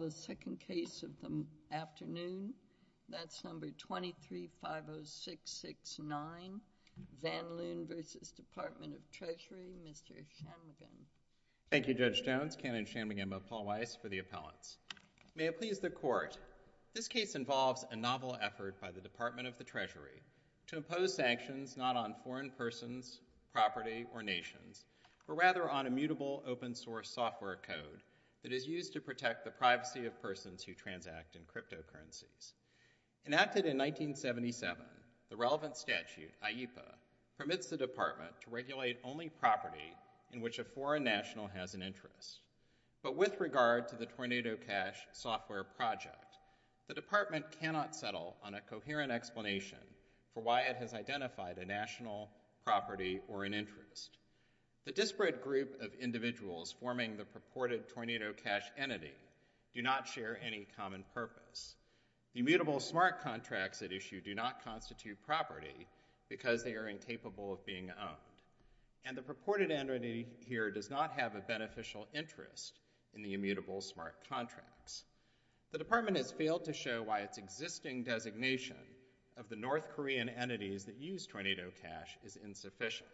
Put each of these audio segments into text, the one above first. The second case of the afternoon, that's No. 23-50669, Van Loon v. Department of Treasury, Mr. Shanmugam. Thank you, Judge Jones, Canon Shanmugam of Paul Weiss for the appellants. May it please the Court, this case involves a novel effort by the Department of the Treasury to impose sanctions not on foreign persons, property, or nations, but rather on immutable open-source software code that is used to protect the privacy of persons who transact in cryptocurrencies. Enacted in 1977, the relevant statute, IEPA, permits the Department to regulate only property in which a foreign national has an interest. But with regard to the Tornado Cash software project, the Department cannot settle on a coherent explanation for why it has identified a national property or an interest. The disparate group of individuals forming the purported Tornado Cash entity do not share any common purpose. The immutable smart contracts at issue do not constitute property because they are incapable of being owned. And the purported entity here does not have a beneficial interest in the immutable smart contracts. The Department has failed to show why its existing designation of the North Korean entities that use Tornado Cash is insufficient.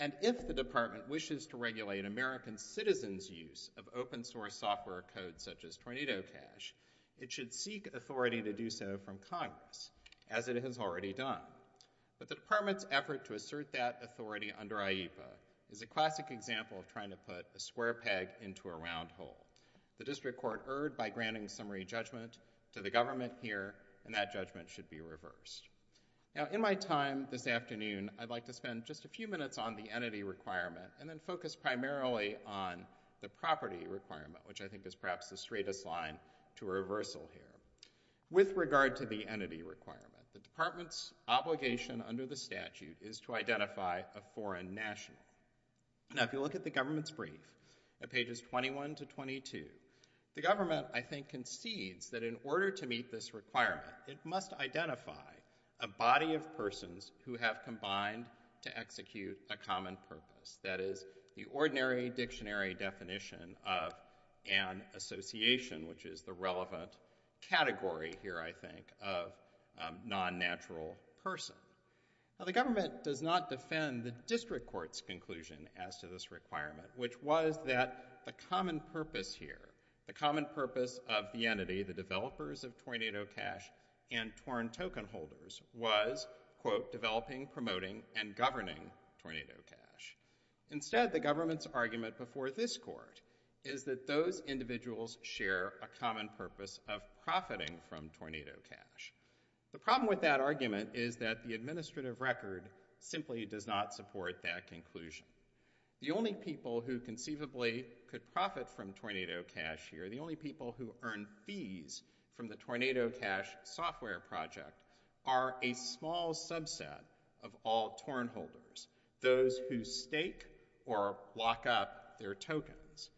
And if the Department wishes to regulate American citizens' use of open-source software code such as Tornado Cash, it should seek authority to do so from Congress, as it has already done. But the Department's effort to assert that authority under IEPA is a classic example of trying to put a square peg into a round hole. The district court erred by granting summary judgment to the government here, and that judgment should be reversed. Now, in my time this afternoon, I'd like to spend just a few minutes on the entity requirement and then focus primarily on the property requirement, which I think is perhaps the straightest line to reversal here. With regard to the entity requirement, the Department's obligation under the statute is to identify a foreign national. Now, if you look at the government's brief at pages 21 to 22, the government, I think, concedes that in order to meet this requirement, it must identify a body of persons who have combined to execute a common purpose, that is, the ordinary dictionary definition of an association, which is the relevant category here, I think, of a non-natural person. Now, the government does not defend the district court's conclusion as to this requirement, which was that the common purpose here, the common purpose of the entity, the developers of Tornado Cash and torn token holders, was, quote, developing, promoting, and governing Tornado Cash. Instead, the government's argument before this court is that those individuals share a common purpose of profiting from Tornado Cash. The problem with that argument is that the administrative record simply does not support that conclusion. The only people who conceivably could profit from Tornado Cash here, the only people who earn fees from the Tornado Cash software project, are a small subset of all torn holders, those who stake or lock up their tokens.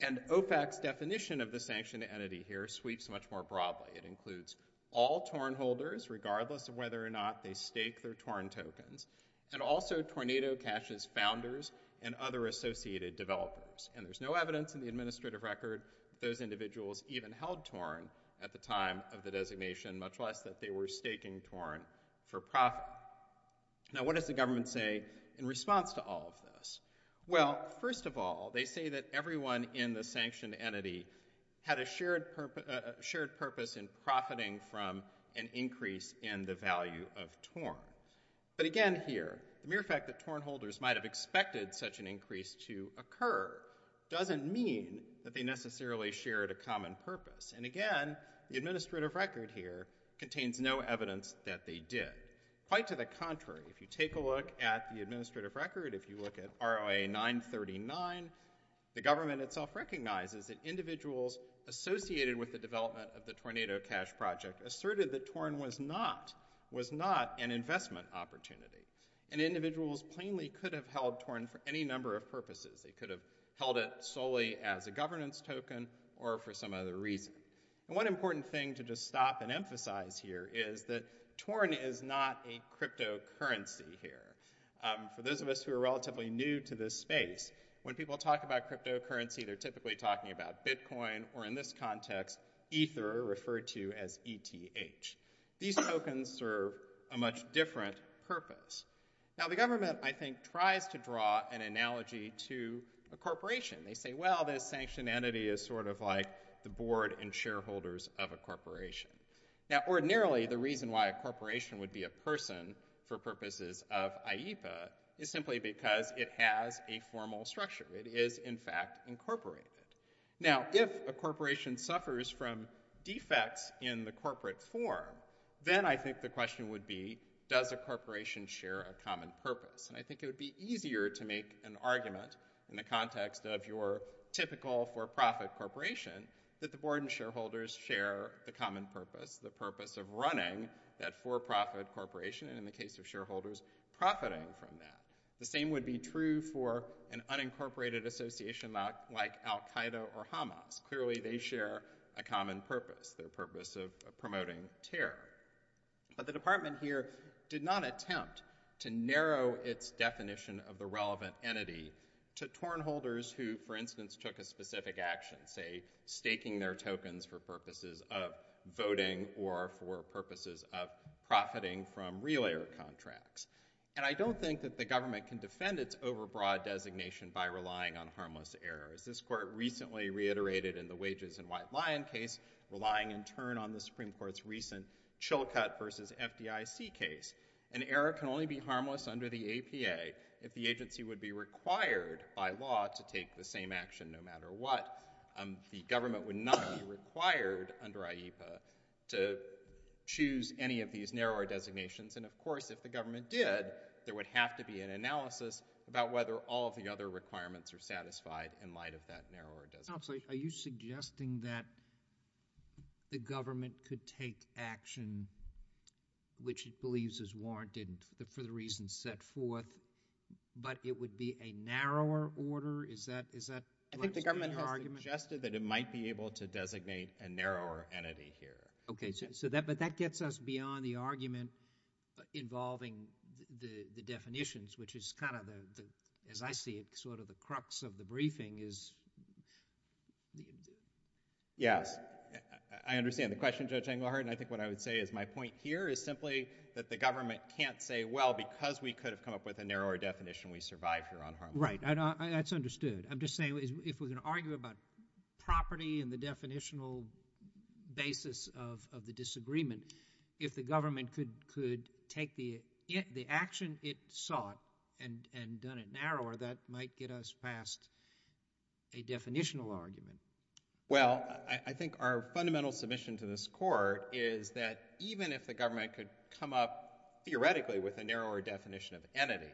And OFAC's definition of the sanctioned entity here sweeps much more broadly. It includes all torn holders, regardless of whether or not they stake their torn tokens, and also Tornado Cash's founders and other associated developers. And there's no evidence in the administrative record that those individuals even held torn at the time of the designation, much less that they were staking torn for profit. Now, what does the government say in response to all of this? Well, first of all, they say that everyone in the sanctioned entity had a shared purpose in profiting from an increase in the value of torn. But again here, the mere fact that torn holders might have expected such an increase to occur doesn't mean that they necessarily shared a common purpose. And again, the administrative record here contains no evidence that they did. Quite to the contrary, if you take a look at the administrative record, if you look at ROA 939, the government itself recognizes that individuals associated with the development of the Tornado Cash project asserted that torn was not an investment opportunity. And individuals plainly could have held torn for any number of purposes. They could have held it solely as a governance token or for some other reason. And one important thing to just stop and emphasize here is that torn is not a cryptocurrency here. For those of us who are relatively new to this space, when people talk about cryptocurrency, they're typically talking about Bitcoin or in this context, Ether referred to as ETH. These tokens serve a much different purpose. Now the government, I think, tries to draw an analogy to a corporation. They say, well, this sanctioned entity is sort of like the board and shareholders of a corporation. Now ordinarily, the reason why a corporation would be a person for purposes of IEPA is simply because it has a formal structure. It is in fact incorporated. Now if a corporation suffers from defects in the corporate form, then I think the question would be, does a corporation share a common purpose? And I think it would be easier to make an argument in the context of your typical for-profit corporation that the board and shareholders share the common purpose, the purpose of running that for-profit corporation and in the case of shareholders profiting from that. The same would be true for an unincorporated association like Al-Qaeda or Hamas. Clearly, they share a common purpose, their purpose of promoting terror. But the department here did not attempt to narrow its definition of the relevant entity to torn holders who, for instance, took a specific action, say staking their tokens for purposes of voting or for purposes of profiting from relayer contracts. And I don't think that the government can defend its overbroad designation by relying on harmless errors. This court recently reiterated in the Wages and White Lion case relying in turn on the Supreme Court's recent Chilcot versus FDIC case. An error can only be harmless under the APA if the agency would be required by law to take the same action no matter what. The government would not be required under IEPA to choose any of these narrower designations. And of course, if the government did, there would have to be an analysis about whether all of the other requirements are satisfied in light of that narrower designation. Are you suggesting that the government could take action which it believes is warranted for the reasons set forth but it would be a narrower order? Is that, is that? I think the government has suggested that it might be able to designate a narrower entity here. Okay. So that, but that gets us beyond the argument involving the definitions which is kind of the, as I see it, sort of the crux of the briefing is the. Yes. I understand the question, Judge Engelhardt. And I think what I would say is my point here is simply that the government can't say, well, because we could have come up with a narrower definition, we survive here on harmless errors. Right. That's understood. I'm just saying if we're going to argue about property and the definitional basis of the disagreement, if the government could take the action it sought and done it narrower, that might get us past a definitional argument. Well, I think our fundamental submission to this court is that even if the government could come up theoretically with a narrower definition of entity,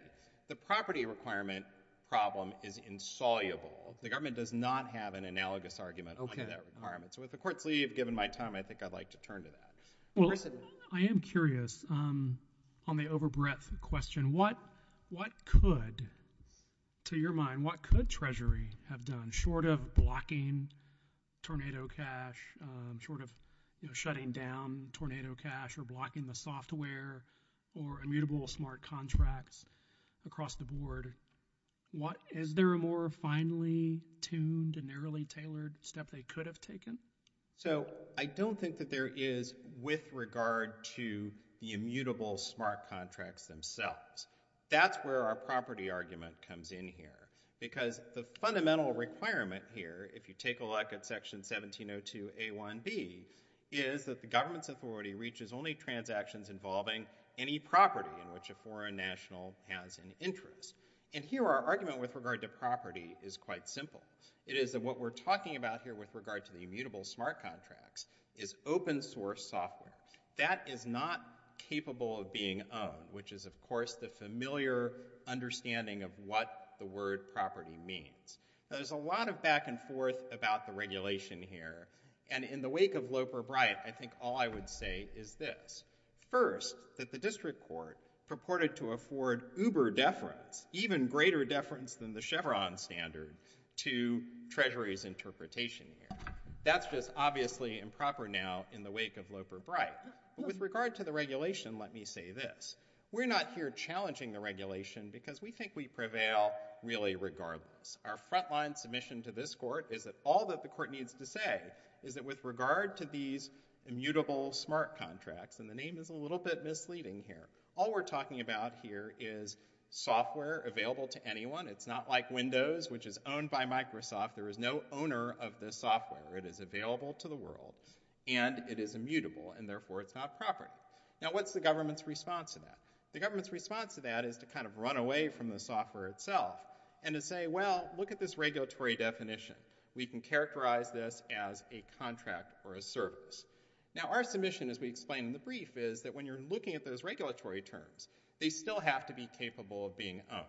the property requirement problem is insoluble. The government does not have an analogous argument on that requirement. So if the courts leave, given my time, I think I'd like to turn to that. Well, I am curious on the over breadth question. What could, to your mind, what could Treasury have done short of blocking tornado cash, short of shutting down tornado cash or blocking the software or immutable smart contracts across the board? Is there a more finely tuned and narrowly tailored step they could have taken? So I don't think that there is with regard to the immutable smart contracts themselves. That's where our property argument comes in here. Because the fundamental requirement here, if you take a look at Section 1702A1B, is that the government's authority reaches only transactions involving any property in which a foreign national has an interest. And here our argument with regard to property is quite simple. It is that what we're talking about here with regard to the immutable smart contracts is open source software. That is not capable of being owned, which is, of course, the familiar understanding of what the word property means. There's a lot of back and forth about the regulation here. And in the wake of Loper-Bright, I think all I would say is this. First, that the district court purported to afford uber deference, even greater deference than the Chevron standard, to Treasury's interpretation here. That's just obviously improper now in the wake of Loper-Bright. With regard to the regulation, let me say this. We're not here challenging the regulation because we think we prevail really regardless. Our frontline submission to this court is that all that the court needs to say is that with regard to these immutable smart contracts, and the name is a little bit misleading here, all we're talking about here is software available to anyone. It's not like Windows, which is owned by Microsoft. There is no owner of this software. It is available to the world, and it is immutable, and therefore, it's not property. Now, what's the government's response to that? The government's response to that is to kind of run away from the software itself and to say, well, look at this regulatory definition. We can characterize this as a contract or a service. Now, our submission, as we explained in the brief, is that when you're looking at those regulatory terms, they still have to be capable of being owned.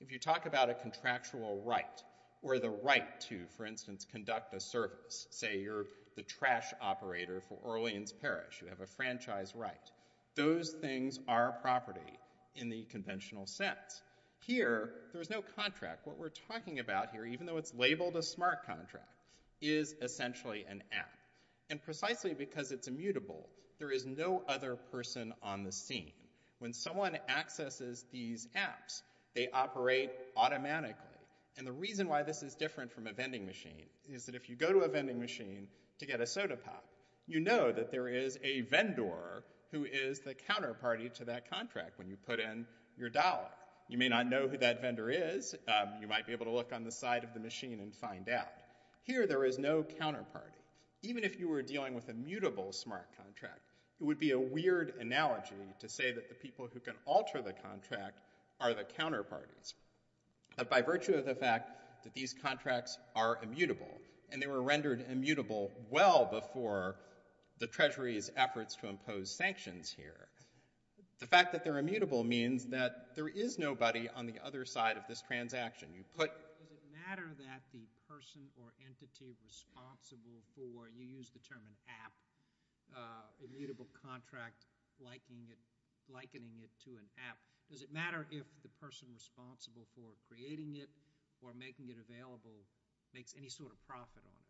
If you talk about a contractual right or the right to, for instance, conduct a service, say you're the trash operator for Orleans Parish, you have a franchise right, those things are property in the conventional sense. Here, there's no contract. What we're talking about here, even though it's labeled a smart contract, is essentially an app. And precisely because it's immutable, there is no other person on the scene. When someone accesses these apps, they operate automatically. And the reason why this is different from a vending machine is that if you go to a vending machine to get a soda pop, you know that there is a vendor who is the counterpart to that contract when you put in your dollar. You may not know who that vendor is. You might be able to look on the side of the machine and find out. Here, there is no counterparty. Even if you were dealing with a mutable smart contract, it would be a weird analogy to say that the people who can alter the contract are the counterparties. But by virtue of the fact that these contracts are immutable, and they were rendered immutable well before the Treasury's efforts to impose sanctions here, the fact that they're immutable means that there is nobody on the other side of this transaction. You put... Does it matter that the person or entity responsible for, you used the term an app, immutable contract likening it to an app, does it matter if the person responsible for creating it or making it available makes any sort of profit on it?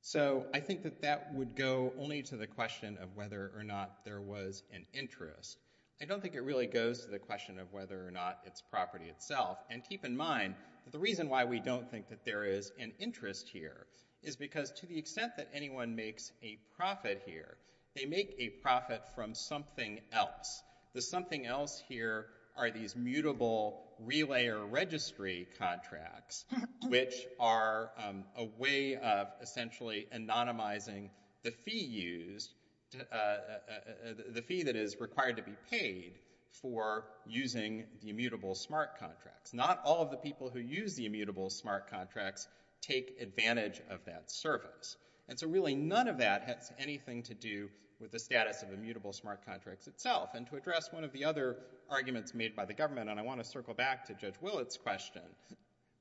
So I think that that would go only to the question of whether or not there was an interest. I don't think it really goes to the question of whether or not it's property itself. And keep in mind, the reason why we don't think that there is an interest here is because to the extent that anyone makes a profit here, they make a profit from something else. The something else here are these mutable relay or registry contracts, which are a way of essentially anonymizing the fee used, the fee that is required to be paid for using the immutable smart contracts. Not all of the people who use the immutable smart contracts take advantage of that service. And so really none of that has anything to do with the status of immutable smart contracts itself. And to address one of the other arguments made by the government, and I want to circle back to Judge Willett's question.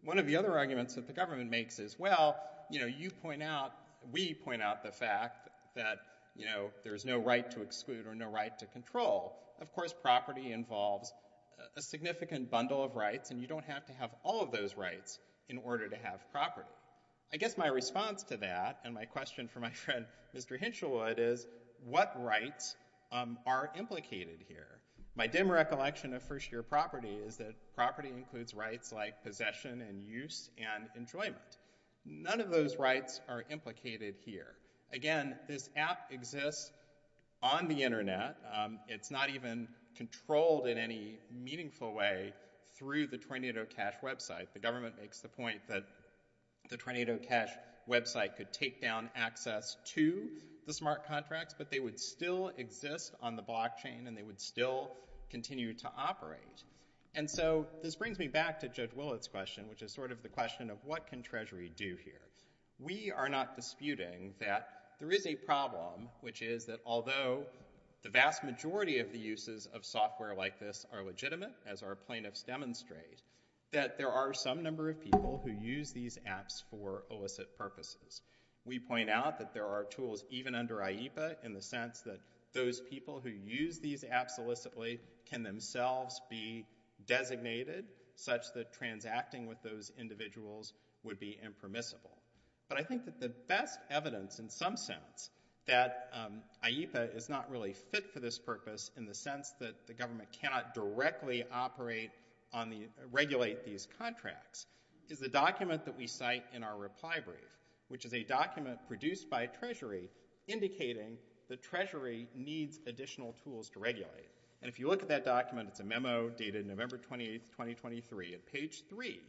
One of the other arguments that the government makes is, well, you know, you point out, we point out the fact that, you know, there's no right to exclude or no right to control. Of course, property involves a significant bundle of rights and you don't have to have all of those rights in order to have property. I guess my response to that and my question for my friend, Mr. Hinshelwood, is what rights are implicated here? My dim recollection of first year property is that property includes rights like possession and use and enjoyment. None of those rights are implicated here. Again, this app exists on the internet. It's not even controlled in any meaningful way through the Tornado Cash website. The government makes the point that the Tornado Cash website could take down access to the smart contracts, but they would still exist on the blockchain and they would still continue to operate. And so this brings me back to Judge Willett's question, which is sort of the question of what can Treasury do here? We are not disputing that there is a problem, which is that although the vast majority of the uses of software like this are legitimate, as our plaintiffs demonstrate, that there are some number of people who use these apps for illicit purposes. We point out that there are tools even under IEPA in the sense that those people who use these apps illicitly can themselves be designated such that transacting with those individuals would be impermissible. But I think that the best evidence in some sense that IEPA is not really fit for this purpose in the sense that the government cannot directly operate on the, regulate these contracts, is the document that we cite in our reply brief, which is a document produced by Treasury indicating that Treasury needs additional tools to regulate. And if you look at that document, it's a memo dated November 28th, 2023. At page three,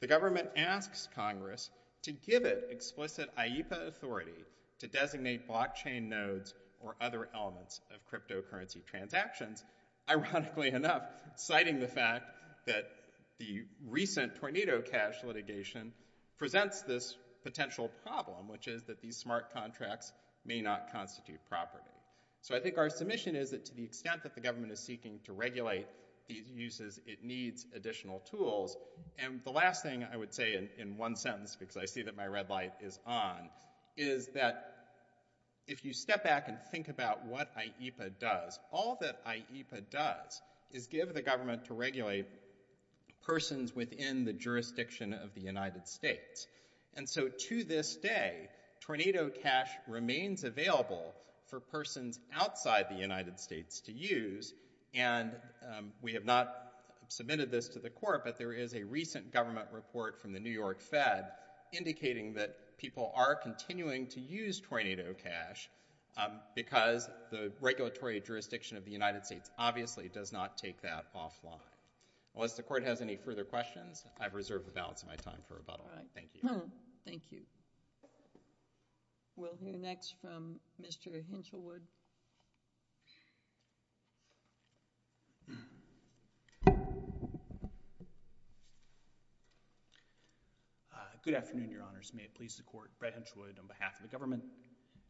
the government asks Congress to give it explicit IEPA authority to designate blockchain nodes or other elements of cryptocurrency transactions. Ironically enough, citing the fact that the recent Tornado Cash litigation presents this potential problem, which is that these smart contracts may not constitute property. So I think our submission is that to the extent that the government is seeking to regulate these uses, it needs additional tools. And the last thing I would say in one sentence, because I see that my red light is on, is that if you step back and think about what IEPA does, all that IEPA does is give the government to regulate persons within the jurisdiction of the United States. And so to this day, Tornado Cash remains available for persons outside the United States to use, and we have not submitted this to the court, but there is a recent government report from the New York Fed indicating that people are continuing to use Tornado Cash because the regulatory jurisdiction of the United States obviously does not take that offline. Unless the court has any further questions, I've reserved the balance of my time for rebuttal. All right. Thank you. Thank you. We'll hear next from Mr. Hinchelwood. Good afternoon, Your Honors. May it please the court, Brett Hinchelwood on behalf of the government.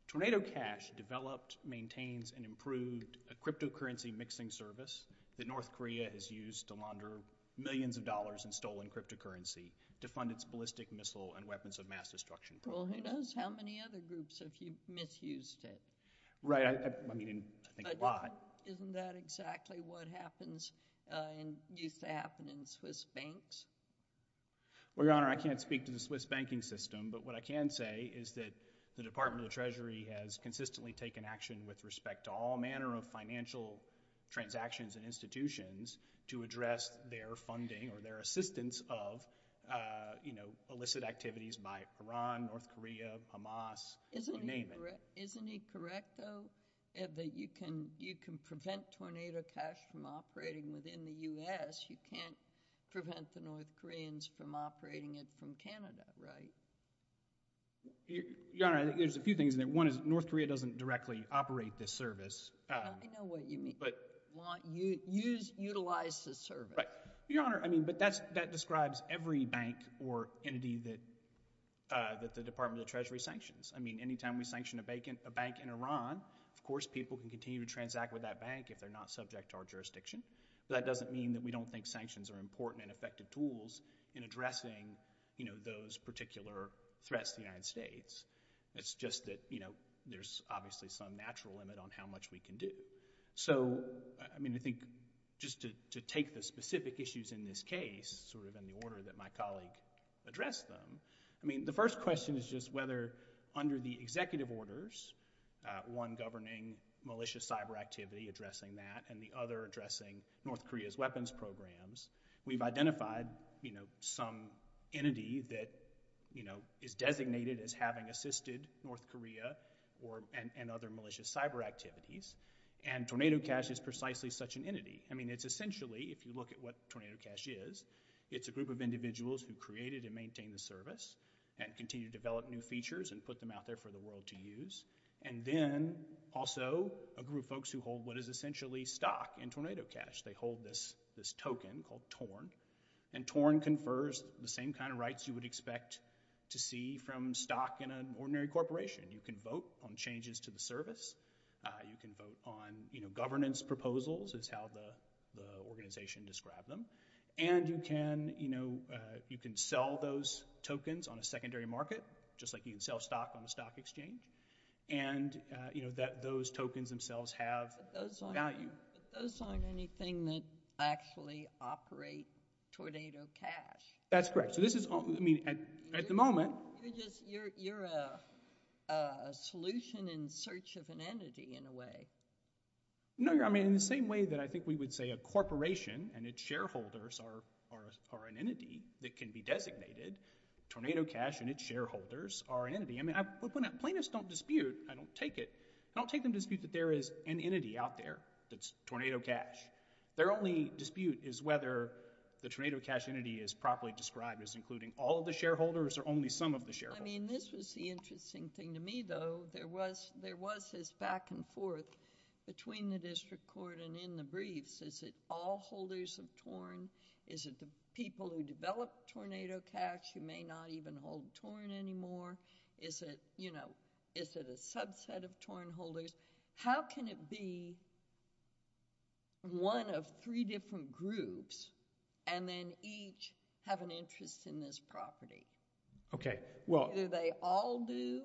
Tornado Cash developed, maintains, and improved a cryptocurrency mixing service that North Korea has used to launder millions of dollars in stolen cryptocurrency to fund its ballistic missile and weapons of mass destruction. Well, who knows how many other groups have misused it? Right. I mean, I think a lot. Isn't that exactly what happens and used to happen in Swiss banks? Well, Your Honor, I can't speak to the Swiss banking system, but what I can say is that the Department of the Treasury has consistently taken action with respect to all manner of financial transactions and institutions to address their funding or their assistance of, you know, illicit activities by Iran, North Korea, Hamas, you name it. Isn't he correct, though, that you can prevent Tornado Cash from operating within the U.S.? You can't prevent the North Koreans from operating it from Canada, right? Your Honor, I think there's a few things in there. One is North Korea doesn't directly operate this service. I know what you mean. Utilize the service. Your Honor, I mean, but that describes every bank or entity that the Department of the Treasury sanctions. I mean, anytime we sanction a bank in Iran, of course people can continue to transact with that bank if they're not subject to our jurisdiction. That doesn't mean that we don't think sanctions are important and effective tools in addressing, you know, those particular threats to the United States. It's just that, you know, there's obviously some natural limit on how much we can do. So, I mean, I think just to take the specific issues in this case sort of in the order that my colleague addressed them, I mean, the first question is just whether under the executive orders, one governing malicious cyber activity addressing that and the other addressing North Korea's weapons programs, we've identified, you know, some entity that, you know, is designated as having assisted North Korea and other malicious cyber activities. And Tornado Cash is precisely such an entity. I mean, it's essentially, if you look at what Tornado Cash is, it's a group of individuals who created and maintain the service and continue to develop new features and put them out there for the world to use. And then also a group of folks who hold what is essentially stock in Tornado Cash. They hold this token called TORN. And TORN confers the same kind of rights you would expect to see from stock in an ordinary corporation. You can vote on changes to the service. You can vote on, you know, governance proposals is how the organization described them. And you can, you know, you can sell those tokens on a secondary market just like you can sell stock on the stock exchange. And, you know, that those tokens themselves have value. But those aren't anything that actually operate Tornado Cash. That's correct. So this is, I mean, at the moment. You're just, you're a solution in search of an entity in a way. No, I mean, in the same way that I think we would say a corporation and its shareholders are an entity that can be designated, Tornado Cash and its shareholders are an entity. I mean, plaintiffs don't dispute. I don't take it. I don't take them to dispute that there is an entity out there that's Tornado Cash. Their only dispute is whether the Tornado Cash entity is properly described as including all of the shareholders or only some of the shareholders. I mean, this was the interesting thing to me, though. There was, there was this back and forth between the district court and in the briefs. Is it all holders of TORN? Is it the people who developed Tornado Cash who may not even hold TORN anymore? Is it, you know, is it a subset of TORN holders? How can it be one of three different groups and then each have an interest in this property? Okay, well. Either they all do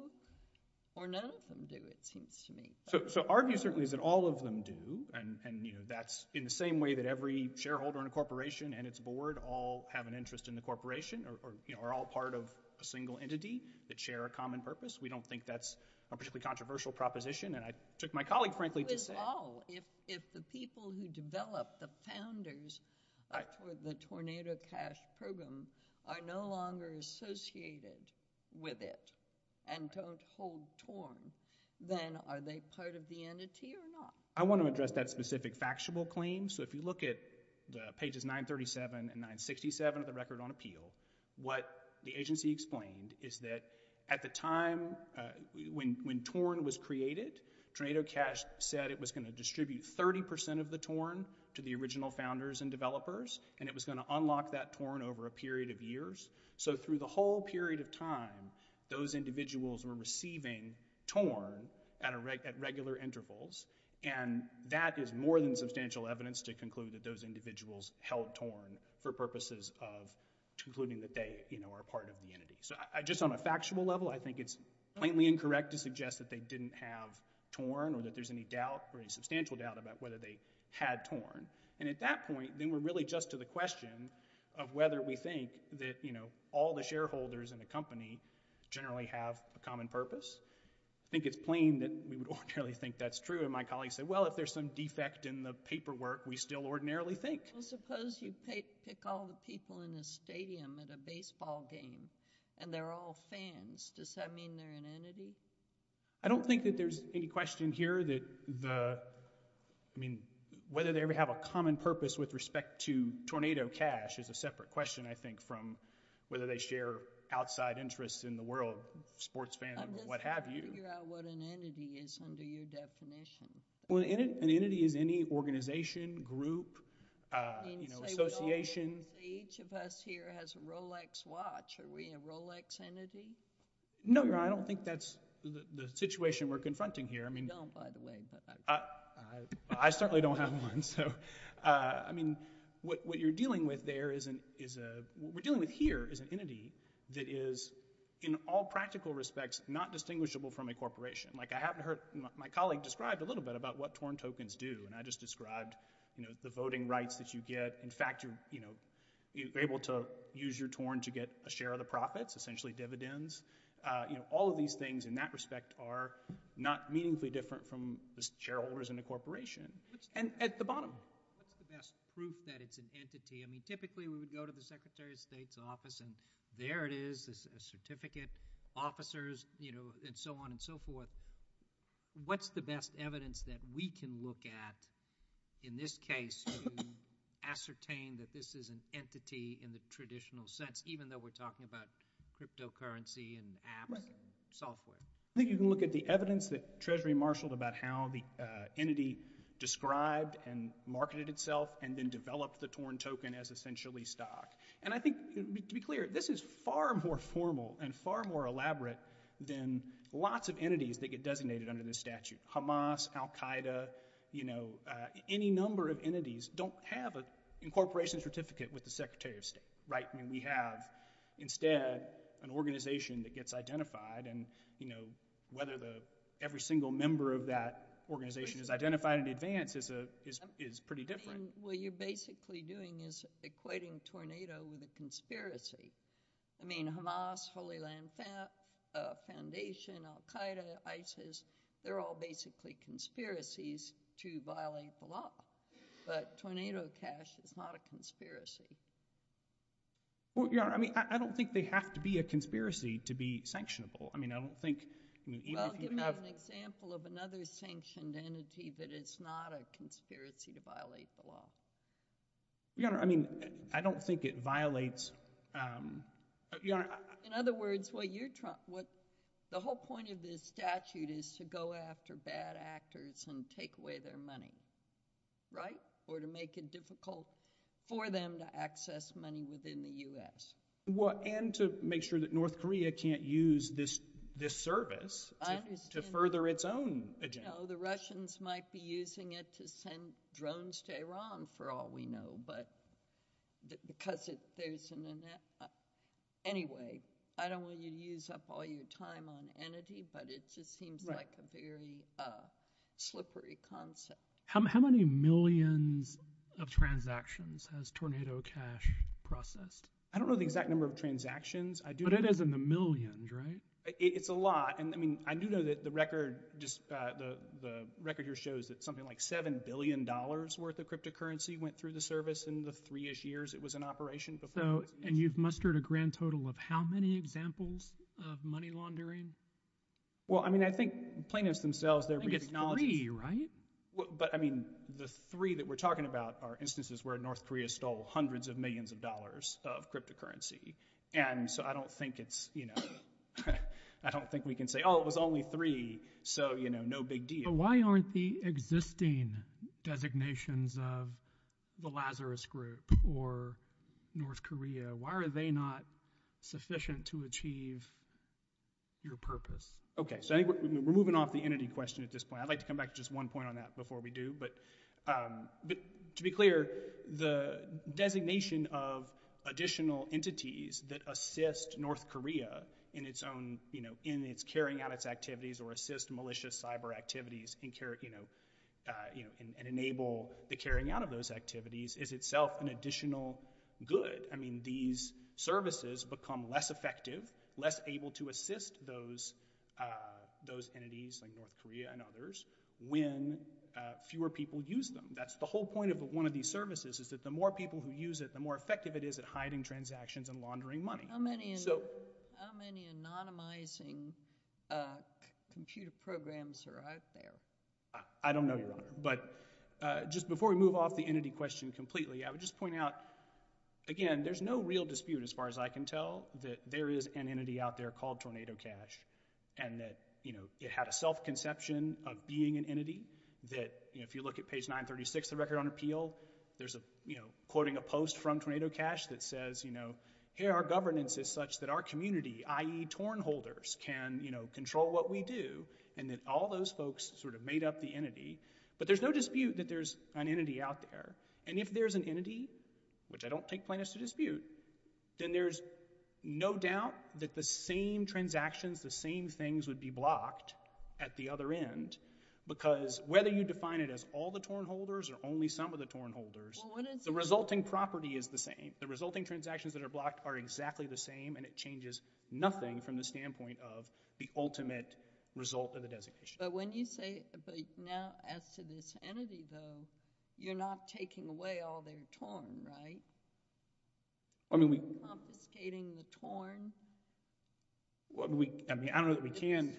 or none of them do, it seems to me. So, so our view certainly is that all of them do and, and, you know, that's in the same way that every shareholder in a corporation and its board all have an interest in the corporation or, or, you know, are all part of a single entity that share a common purpose. We don't think that's a particularly controversial proposition and I took my colleague, frankly, to say. But if all, if, if the people who developed the founders of the Tornado Cash program are no longer associated with it and don't hold TORN, then are they part of the entity or not? I want to address that specific factual claim. So if you look at the pages 937 and 967 of the Record on Appeal, what the agency explained is that at the time when, when TORN was created, Tornado Cash said it was going to distribute 30% of the TORN to the original founders and developers and it was going to unlock that TORN over a period of years. So through the whole period of time, those individuals were receiving TORN at a regular, at regular intervals and that is more than substantial evidence to conclude that those individuals held TORN for purposes of concluding that they, you know, are part of the entity. So I, just on a factual level, I think it's plainly incorrect to suggest that they didn't have TORN or that there's any doubt or any substantial doubt about whether they had TORN and at that point, then we're really just to the question of whether we think that, you know, all the shareholders in the company generally have a common purpose. I think it's plain that we would ordinarily think that's true and my colleague said, well, if there's some defect in the paperwork, we still ordinarily think. Well, suppose you pick all the people in a stadium at a baseball game and they're all fans, does that mean they're an entity? I don't think that there's any question here that the, I mean, whether they ever have a common purpose with respect to TORNADO Cash is a separate question, I think, from whether they share outside interests in the world, sports fandom or what have you. I'm just trying to figure out what an entity is under your definition. Well, an entity is any organization, group, you know, association. Each of us here has a Rolex watch. Are we a Rolex entity? No, Your Honor, I don't think that's the situation we're confronting here. I mean, I certainly don't have one, so, I mean, what you're dealing with there is a, what we're dealing with here is an entity that is in all practical respects not distinguishable from a corporation. Like, I haven't heard my colleague describe a little bit about what TORN tokens do, and I just described, you know, the voting rights that you get. In fact, you're, you know, you're able to use your TORN to get a share of the profits, essentially dividends, you know, all of these things in that respect are not meaningfully different from the shareholders in a corporation. And at the bottom. What's the best proof that it's an entity? I mean, typically we would go to the Secretary of State's office and there it is, a certificate, officers, you know, and so on and so forth. What's the best evidence that we can look at in this case to ascertain that this is an entity in the traditional sense, even though we're talking about cryptocurrency and apps and software? I think you can look at the evidence that Treasury marshaled about how the entity described and marketed itself and then developed the TORN token as essentially stock. And I think, to be clear, this is far more formal and far more elaborate than lots of entities that get designated under this statute. Hamas, Al-Qaeda, you know, any number of entities don't have an incorporation certificate with the Secretary of State, right? I mean, we have instead an organization that gets identified and, you know, whether the, every single member of that organization is identified in advance is a, is pretty different. What you're basically doing is equating TORNADO with a conspiracy. I mean, Hamas, Holy Land Foundation, Al-Qaeda, ISIS, they're all basically conspiracies to violate the law. But TORNADO cash is not a conspiracy. Well, you know, I mean, I don't think they have to be a conspiracy to be sanctionable. I mean, I don't think, you know, even if you have. Well, I'll give you an example of another sanctioned entity that it's not a conspiracy to violate the law. Your Honor, I mean, I don't think it violates. Your Honor, I. In other words, what you're trying, what, the whole point of this statute is to go after bad actors and take away their money, right? Or to make it difficult for them to access money within the U.S. Well, and to make sure that North Korea can't use this, this service. I understand. To further its own agenda. You know, the Russians might be using it to send drones to Iran, for all we know. But, because it, there's an, anyway, I don't want you to use up all your time on entity, but it just seems like a very slippery concept. How many millions of transactions has TORNADO cash processed? I don't know the exact number of transactions. I do. But it is in the millions, right? It's a lot. And, I mean, I do know that the record just, the, the record here shows that something like $7 billion worth of cryptocurrency went through the service in the three-ish years it was in operation. So, and you've mustered a grand total of how many examples of money laundering? Well, I mean, I think plaintiffs themselves. I think it's three, right? But, I mean, the three that we're talking about are instances where North Korea stole hundreds of millions of dollars of cryptocurrency. And so I don't think it's, you know, I don't think we can say, oh, it was only three. So, you know, no big deal. But why aren't the existing designations of the Lazarus Group or North Korea, why are they not sufficient to achieve your purpose? Okay. So I think we're moving off the entity question at this point. I'd like to come back to just one point on that before we do. But, but to be clear, the designation of additional entities that assist North Korea in its own, you know, in its carrying out its activities or assist malicious cyber activities and carry, you know, you know, and enable the carrying out of those activities is itself an additional good. I mean, these services become less effective, less able to assist those, those entities like North Korea and others when fewer people use them. That's the whole point of one of these services is that the more people who use it, the more effective it is at hiding transactions and laundering money. So. How many, how many anonymizing computer programs are out there? I don't know, Your Honor. But just before we move off the entity question completely, I would just point out, again, there's no real dispute as far as I can tell that there is an entity out there called TornadoCash and that, you know, it had a self-conception of being an entity that, you know, if you look at page 936 of the Record on Appeal, there's a, you know, quoting a post from TornadoCash that says, you know, here our governance is such that our community, i.e. torn holders, can, you know, control what we do and that all those folks sort of made up the entity. But there's no dispute that there's an entity out there. And if there's an entity, which I don't take plaintiffs to dispute, then there's no doubt that the same transactions, the same things would be blocked at the other end because whether you define it as all the torn holders or only some of the torn holders, the resulting property is the same. The resulting transactions that are blocked are exactly the same and it changes nothing from the standpoint of the ultimate result of the designation. But when you say, but now as to this entity though, you're not taking away all their torn, right? You're confiscating the torn? I mean, I don't know that we can.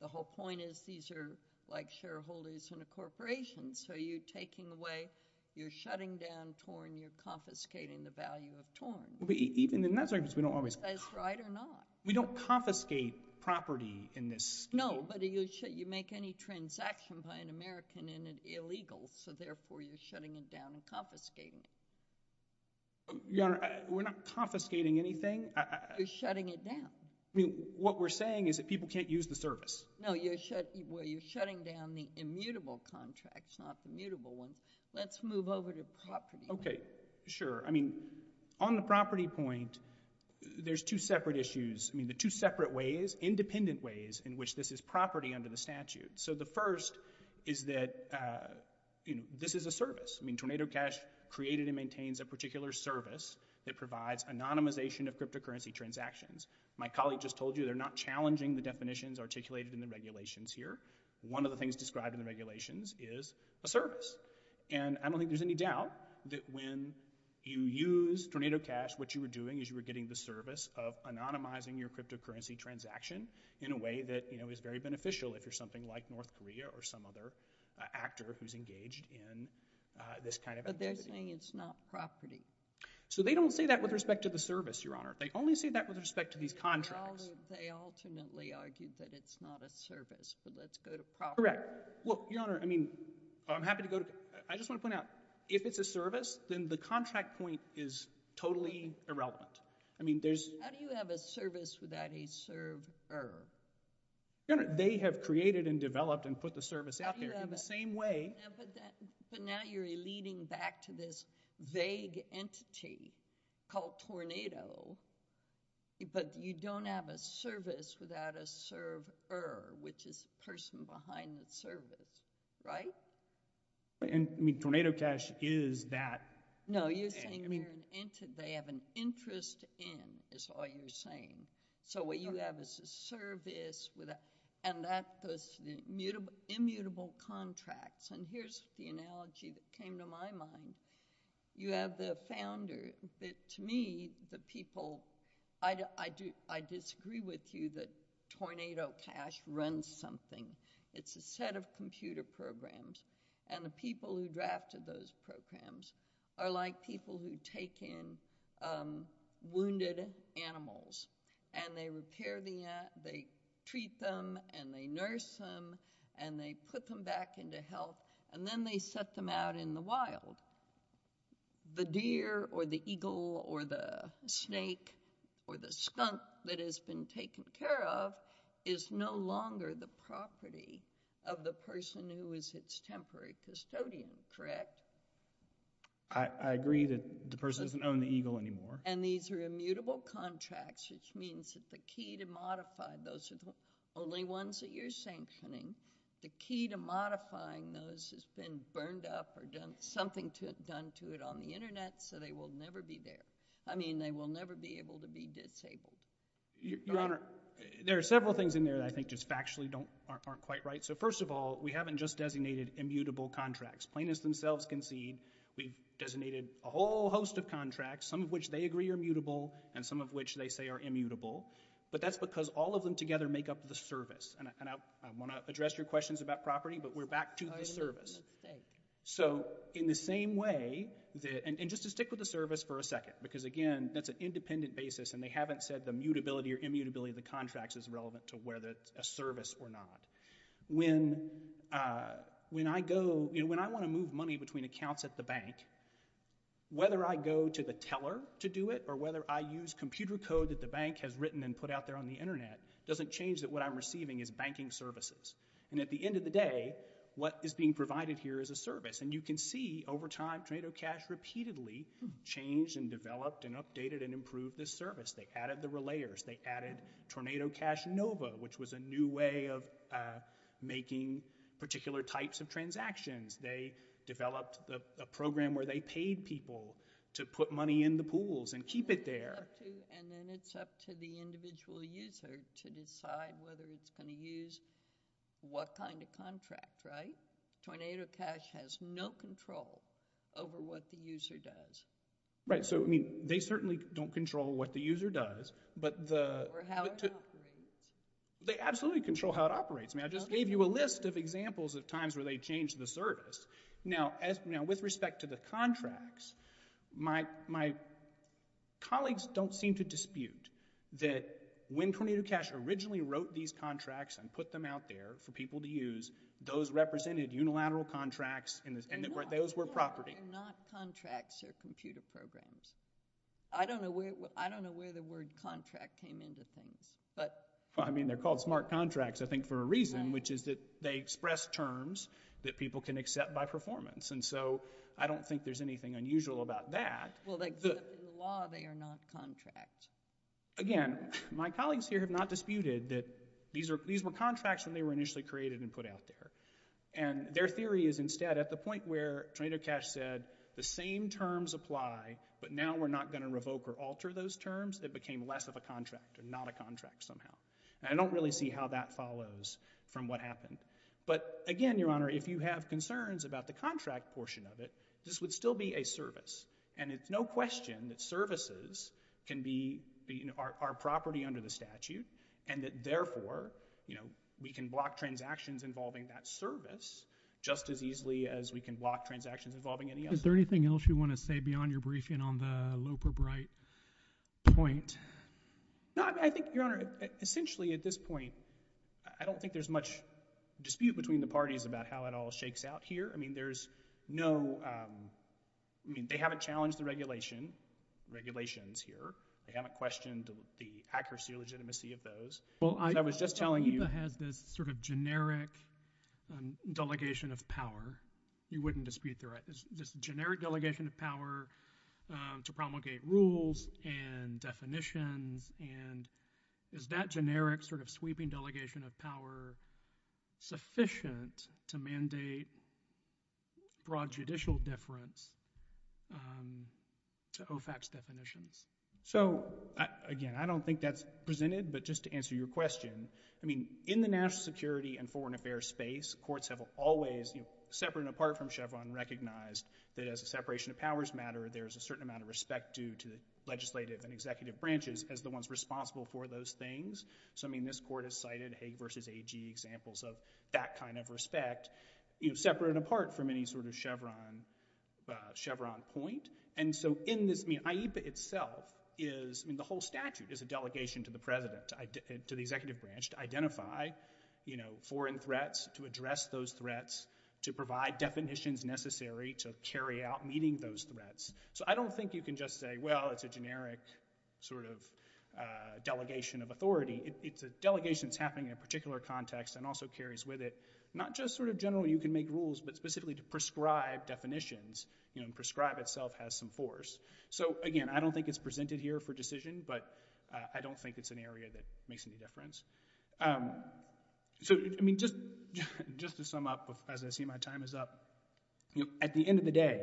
The whole point is these are like shareholders in a corporation. So you're taking away, you're shutting down torn, you're confiscating the value of torn. Even in that circumstance, we don't always. That's right or not. We don't confiscate property in this scheme. No, but you make any transaction by an American and it's illegal, so therefore you're shutting it down and confiscating it. Your Honor, we're not confiscating anything. You're shutting it down. I mean, what we're saying is that people can't use the service. No, you're shutting down the immutable contracts, not the mutable ones. Let's move over to property. Okay, sure. I mean, on the property point, there's two separate issues. I mean, the two separate ways, independent ways in which this is property under the statute. So the first is that, you know, this is a service. I mean, Tornado Cash created and maintains a particular service that provides anonymization of cryptocurrency transactions. My colleague just told you they're not challenging the definitions articulated in the regulations here. One of the things described in the regulations is a service. And I don't think there's any doubt that when you use Tornado Cash, what you were doing is you were getting the service of anonymizing your cryptocurrency transaction in a way that, you know, is very beneficial if you're something like North Korea or some other actor who's engaged in this kind of activity. But they're saying it's not property. So they don't say that with respect to the service, Your Honor. They only say that with respect to these contracts. They ultimately argued that it's not a service, but let's go to property. Correct. Well, Your Honor, I mean, I'm happy to go to... I just want to point out, if it's a service, then the contract point is totally irrelevant. I mean, there's... How do you have a service without a server? Your Honor, they have created and developed and put the service out there in the same way. But now you're leading back to this vague entity called Tornado, but you don't have a service without a server, which is a person behind the service, right? I mean, Tornado Cash is that. No, you're saying they're an entity. They're just in, is all you're saying. So what you have is a service without... And that's the immutable contracts. And here's the analogy that came to my mind. You have the founder. To me, the people... I disagree with you that Tornado Cash runs something. It's a set of computer programs. And the people who drafted those programs are like people who take in wounded animals. And they repair the... They treat them and they nurse them and they put them back into health. And then they set them out in the wild. The deer or the eagle or the snake or the skunk that has been taken care of is no longer the property of the person who is its temporary custodian, correct? I agree that the person doesn't own the eagle anymore. And these are immutable contracts, which means that the key to modify... Those are the only ones that you're sanctioning. The key to modifying those has been burned up or something done to it on the internet, so they will never be there. I mean, they will never be able to be disabled. Your Honor, there are several things in there that I think just factually aren't quite right. So first of all, we haven't just designated immutable contracts. Plaintiffs themselves concede we've designated a whole host of contracts, some of which they agree are mutable and some of which they say are immutable. But that's because all of them together make up the service. And I want to address your questions about property, but we're back to the service. So in the same way that... And just to stick with the service for a second, because again, that's an independent basis and they haven't said the mutability or immutability of the contracts is relevant to whether it's a service or not. When I go... So when I want to move money between accounts at the bank, whether I go to the teller to do it or whether I use computer code that the bank has written and put out there on the internet, doesn't change that what I'm receiving is banking services. And at the end of the day, what is being provided here is a service. And you can see over time, Tornado Cash repeatedly changed and developed and updated and improved this service. They added the relayers, they added Tornado Cash Nova, which was a new way of making particular types of transactions. They developed a program where they paid people to put money in the pools and keep it there. And then it's up to the individual user to decide whether it's going to use what kind of contract, right? Tornado Cash has no control over what the user does. Right, so I mean, they certainly don't control what the user does, but the... Or how it operates. They absolutely control how it operates. I mean, I just gave you a list of examples of times where they changed the service. Now, with respect to the contracts, my colleagues don't seem to dispute that when Tornado Cash originally wrote these contracts and put them out there for people to use, those represented unilateral contracts and those were property. They're not contracts or computer programs. I don't know where the word contract came into things, but... Well, I mean, they're called smart contracts, I think for a reason, which is that they express terms that people can accept by performance. And so I don't think there's anything unusual about that. Well, except in the law, they are not contract. Again, my colleagues here have not disputed that these were contracts when they were initially created and put out there. And their theory is instead, at the point where Tornado Cash said the same terms apply, but now we're not gonna revoke or alter those terms, it became less of a contract or not a contract somehow. And I don't really see how that follows from what happened. But again, Your Honor, if you have concerns about the contract portion of it, this would still be a service. And it's no question that services can be our property under the statute and that therefore, we can block transactions involving that service just as easily as we can block transactions involving any other. Is there anything else you wanna say beyond your briefing on the Loper-Bright point? No, I think, Your Honor, essentially at this point, I don't think there's much dispute between the parties about how it all shakes out here. I mean, there's no, I mean, they haven't challenged the regulation, regulations here. They haven't questioned the accuracy or legitimacy of those. Well, I was just telling you- Well, I thought HIPAA has this sort of generic delegation of power. You wouldn't dispute the right. This generic delegation of power to promulgate rules and definitions and is that generic sort of sweeping delegation of power sufficient to mandate broad judicial deference to OFAC's definitions? So, again, I don't think that's presented, but just to answer your question, I mean, in the national security and foreign affairs space, courts have always, separate and apart from Chevron, recognized that as a separation of powers matter, there's a certain amount of respect due to the legislative and executive branches as the ones responsible for those things. So, I mean, this court has cited Hague versus AG examples of that kind of respect, separate and apart from any sort of Chevron point. And so in this, I mean, HIPAA itself is, I mean, the whole statute is a delegation to the president, to the executive branch to identify foreign threats, to address those threats, to provide definitions necessary to carry out meeting those threats. So I don't think you can just say, well, it's a generic sort of delegation of authority. It's a delegation that's happening in a particular context and also carries with it, not just sort of generally you can make rules, but specifically to prescribe definitions, you know, and prescribe itself has some force. So, again, I don't think it's presented here for decision, but I don't think it's an area that makes any difference. So, I mean, just to sum up, as I see my time is up, at the end of the day,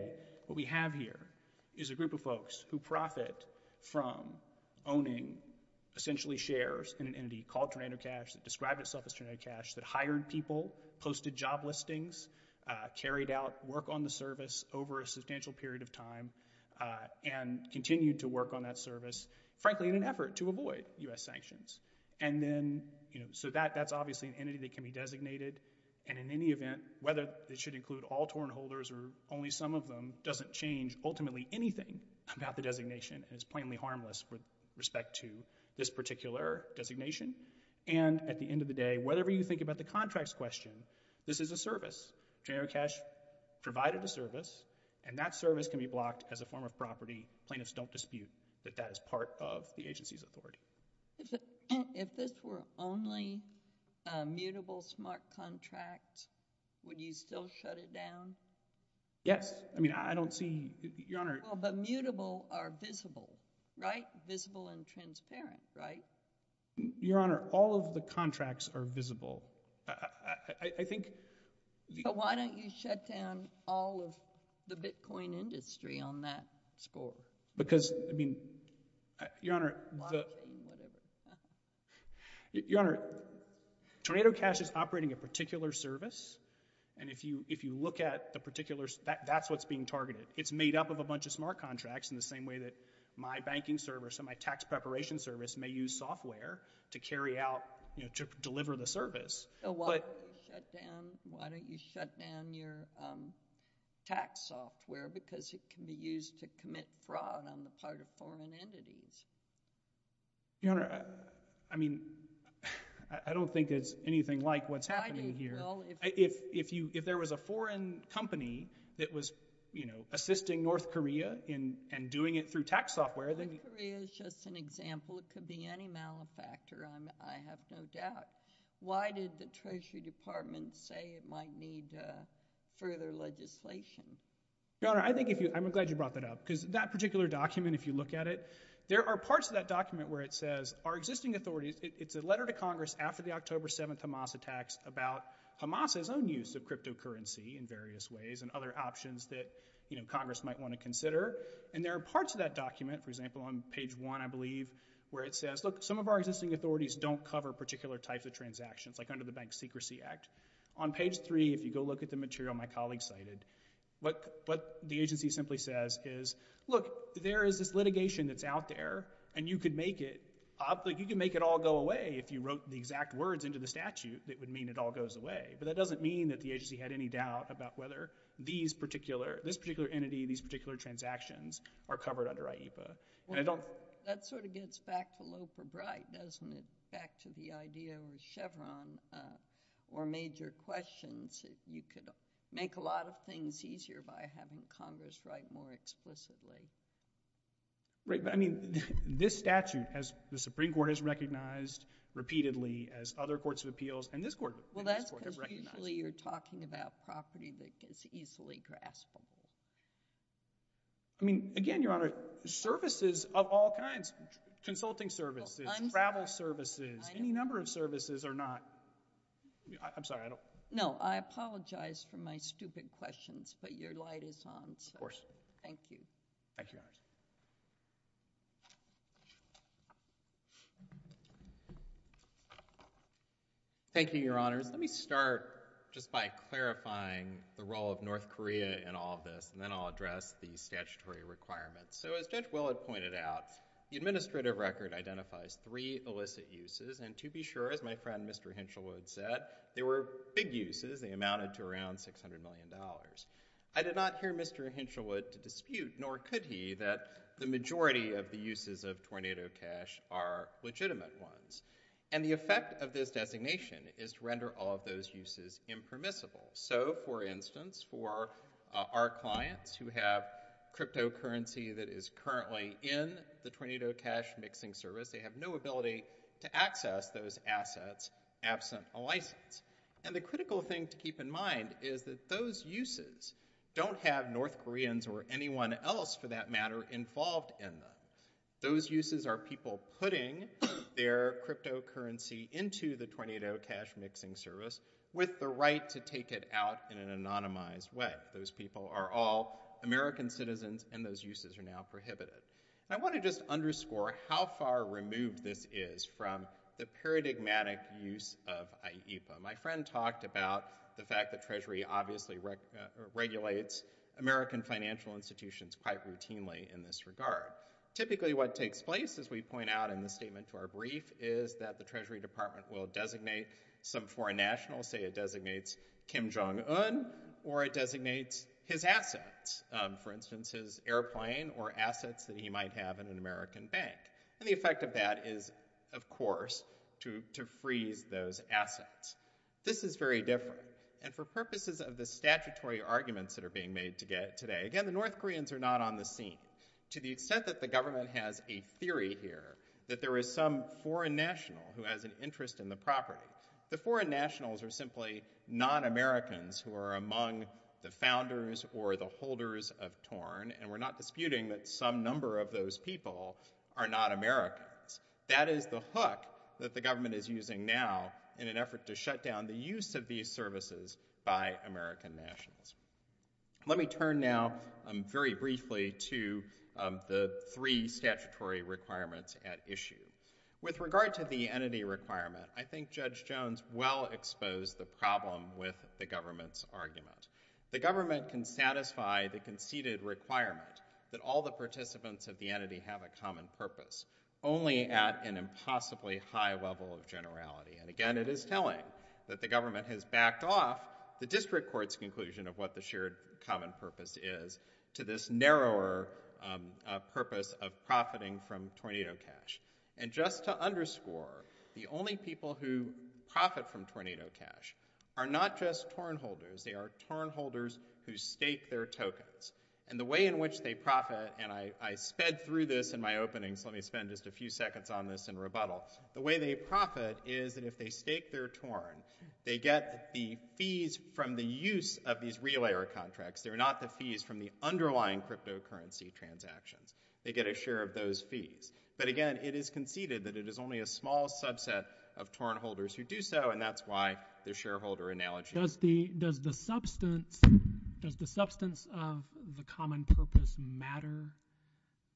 what we have here is a group of folks who profit from owning essentially shares in an entity called Tornado Cash that described itself as Tornado Cash, that hired people, posted job listings, carried out work on the service over a substantial period of time and continued to work on that service, frankly, in an effort to avoid US sanctions. And then, you know, so that's obviously an entity that can be designated. And in any event, whether it should include all torn holders or only some of them, doesn't change ultimately anything about the designation. It's plainly harmless with respect to this particular designation. And at the end of the day, whatever you think about the contracts question, this is a service. General Cash provided a service and that service can be blocked as a form of property. Plaintiffs don't dispute that that is part of the agency's authority. If this were only a mutable smart contract, would you still shut it down? I mean, I don't see, Your Honor. Well, but mutable are visible, right? Visible and transparent, right? Your Honor, all of the contracts are visible. I think the- But why don't you shut down all of the Bitcoin industry on that score? Because, I mean, Your Honor, the- Blockchain, whatever. Your Honor, Tornado Cash is operating a particular service. And if you look at the particular, that's what's being targeted. It's made up of a bunch of smart contracts in the same way that my banking service and my tax preparation service may use software to carry out, to deliver the service. But- Why don't you shut down your tax software because it can be used to commit fraud on the part of foreign entities? Your Honor, I mean, I don't think it's anything like what's happening here. Why do you feel- If there was a foreign company that was, you know, assisting North Korea in doing it through tax software, then- North Korea is just an example. It could be any malefactor, I have no doubt. Why did the Treasury Department say it might need further legislation? Your Honor, I think if you, I'm glad you brought that up because that particular document, if you look at it, there are parts of that document where it says our existing authorities, it's a letter to Congress after the October 7th Hamas attacks about Hamas's own use of cryptocurrency in various ways and other options that Congress might want to consider. And there are parts of that document, for example, on page one, I believe, where it says, look, some of our existing authorities don't cover particular types of transactions, like under the Bank Secrecy Act. On page three, if you go look at the material my colleague cited, what the agency simply says is, look, there is this litigation that's out there and you could make it, you could make it all go away if you wrote the exact words into the statute that would mean it all goes away. But that doesn't mean that the agency had any doubt about whether these particular, this particular entity, these particular transactions are covered under IEPA. And I don't- That sort of gets back to low for bright, doesn't it? Back to the idea with Chevron or major questions, if you could make a lot of things easier by having Congress write more explicitly. Right, but I mean, this statute has, the Supreme Court has recognized repeatedly as other courts of appeals, and this court has recognized- Well, that's because usually you're talking about property that is easily graspable. I mean, again, Your Honor, services of all kinds, consulting services, travel services, any number of services are not, I'm sorry, I don't- No, I apologize for my stupid questions, but your light is on, so- Thank you. Thank you, Your Honors. Thank you, Your Honors. Let me start just by clarifying the role of North Korea in all of this, and then I'll address the statutory requirements. So as Judge Willard pointed out, the administrative record identifies three illicit uses, and to be sure, as my friend Mr. Hinshelwood said, they were big uses. They amounted to around $600 million. I did not hear Mr. Hinshelwood to dispute, nor could he, that the majority of the uses of Tornado Cash are legitimate ones, and the effect of this designation is to render all of those uses impermissible. So, for instance, for our clients who have cryptocurrency that is currently in the Tornado Cash mixing service, they have no ability to access those assets absent a license. And the critical thing to keep in mind is that those uses don't have North Koreans or anyone else, for that matter, involved in them. Those uses are people putting their cryptocurrency into the Tornado Cash mixing service with the right to take it out in an anonymized way. Those people are all American citizens, and those uses are now prohibited. I wanna just underscore how far removed this is from the paradigmatic use of IEPA. My friend talked about the fact that Treasury obviously regulates American financial institutions quite routinely in this regard. Typically, what takes place, as we point out in the statement to our brief, is that the Treasury Department will designate some foreign national, say it designates Kim Jong-un, or it designates his assets, for instance, his airplane or assets that he might have in an American bank. And the effect of that is, of course, to freeze those assets. This is very different. And for purposes of the statutory arguments that are being made today, again, the North Koreans are not on the scene, to the extent that the government has a theory here that there is some foreign national who has an interest in the property. The foreign nationals are simply non-Americans who are among the founders or the holders of Torn, and we're not disputing that some number of those people are not Americans. That is the hook that the government is using now in an effort to shut down the use of these services by American nationals. Let me turn now, very briefly, to the three statutory requirements at issue. With regard to the entity requirement, I think Judge Jones well exposed the problem with the government's argument. The government can satisfy the conceded requirement that all the participants of the entity have a common purpose, only at an impossibly high level of generality. And again, it is telling that the government has backed off the district court's conclusion of what the shared common purpose is to this narrower purpose of profiting from Tornado Cash. And just to underscore, the only people who profit from Tornado Cash are not just Torn holders, they are Torn holders who stake their tokens. And the way in which they profit, and I sped through this in my opening, so let me spend just a few seconds on this in rebuttal. The way they profit is that if they stake their Torn, they get the fees from the use of these relayer contracts. They're not the fees from the underlying cryptocurrency transactions. They get a share of those fees. But again, it is conceded that it is only a small subset of Torn holders who do so, and that's why the shareholder analogy. Does the substance of the common purpose matter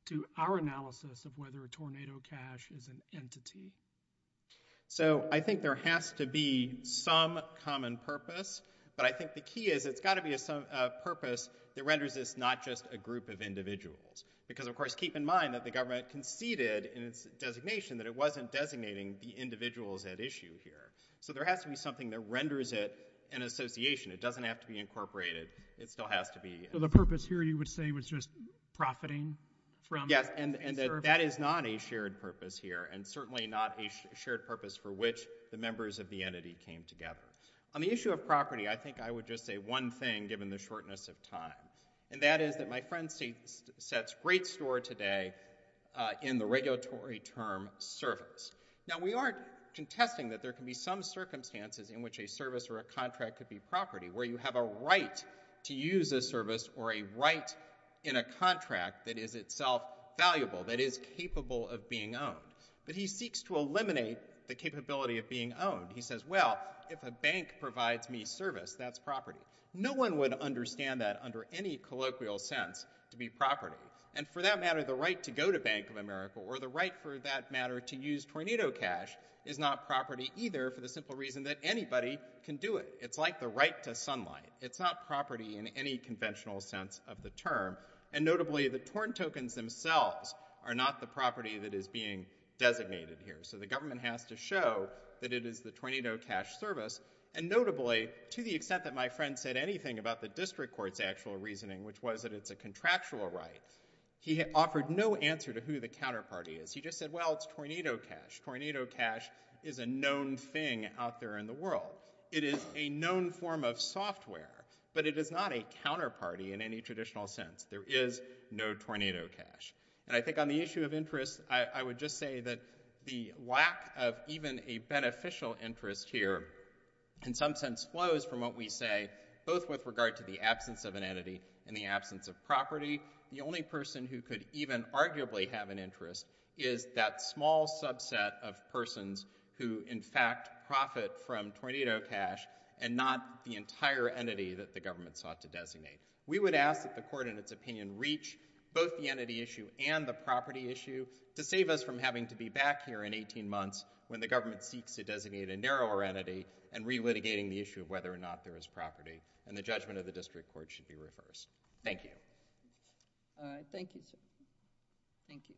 to our analysis of whether a Tornado Cash is an entity? So I think there has to be some common purpose, but I think the key is it's gotta be a purpose that renders this not just a group of individuals. Because of course, keep in mind that the government conceded in its designation that it wasn't designating the individuals at issue here. So there has to be something that renders it an association. It doesn't have to be incorporated. It still has to be. So the purpose here you would say was just profiting from? Yes, and that is not a shared purpose here, and certainly not a shared purpose for which the members of the entity came together. On the issue of property, I think I would just say one thing, given the shortness of time, and that is that my friend sets great store today in the regulatory term service. Now we aren't contesting that there can be some circumstances in which a service or a contract could be property, where you have a right to use a service or a right in a contract that is itself valuable, that is capable of being owned. But he seeks to eliminate the capability of being owned. He says, well, if a bank provides me service, that's property. No one would understand that under any colloquial sense to be property. And for that matter, the right to go to Bank of America, or the right for that matter to use Tornado Cash is not property either, for the simple reason that anybody can do it. It's like the right to sunlight. It's not property in any conventional sense of the term. And notably, the Torn tokens themselves are not the property that is being designated here. So the government has to show that it is the Tornado Cash service. And notably, to the extent that my friend said anything about the district court's actual reasoning, which was that it's a contractual right, he offered no answer to who the counterparty is. He just said, well, it's Tornado Cash. Tornado Cash is a known thing out there in the world. It is a known form of software, but it is not a counterparty in any traditional sense. There is no Tornado Cash. And I think on the issue of interest, I would just say that the lack of even a beneficial interest here, in some sense, flows from what we say, both with regard to the absence of an entity and the absence of property. The only person who could even arguably have an interest is that small subset of persons who, in fact, profit from Tornado Cash and not the entire entity that the government sought to designate. We would ask that the court, in its opinion, reach both the entity issue and the property issue to save us from having to be back here in 18 months when the government seeks to designate a narrower entity and re-litigating the issue of whether or not there is property. And the judgment of the district court should be reversed. Thank you. All right, thank you, sir. Thank you.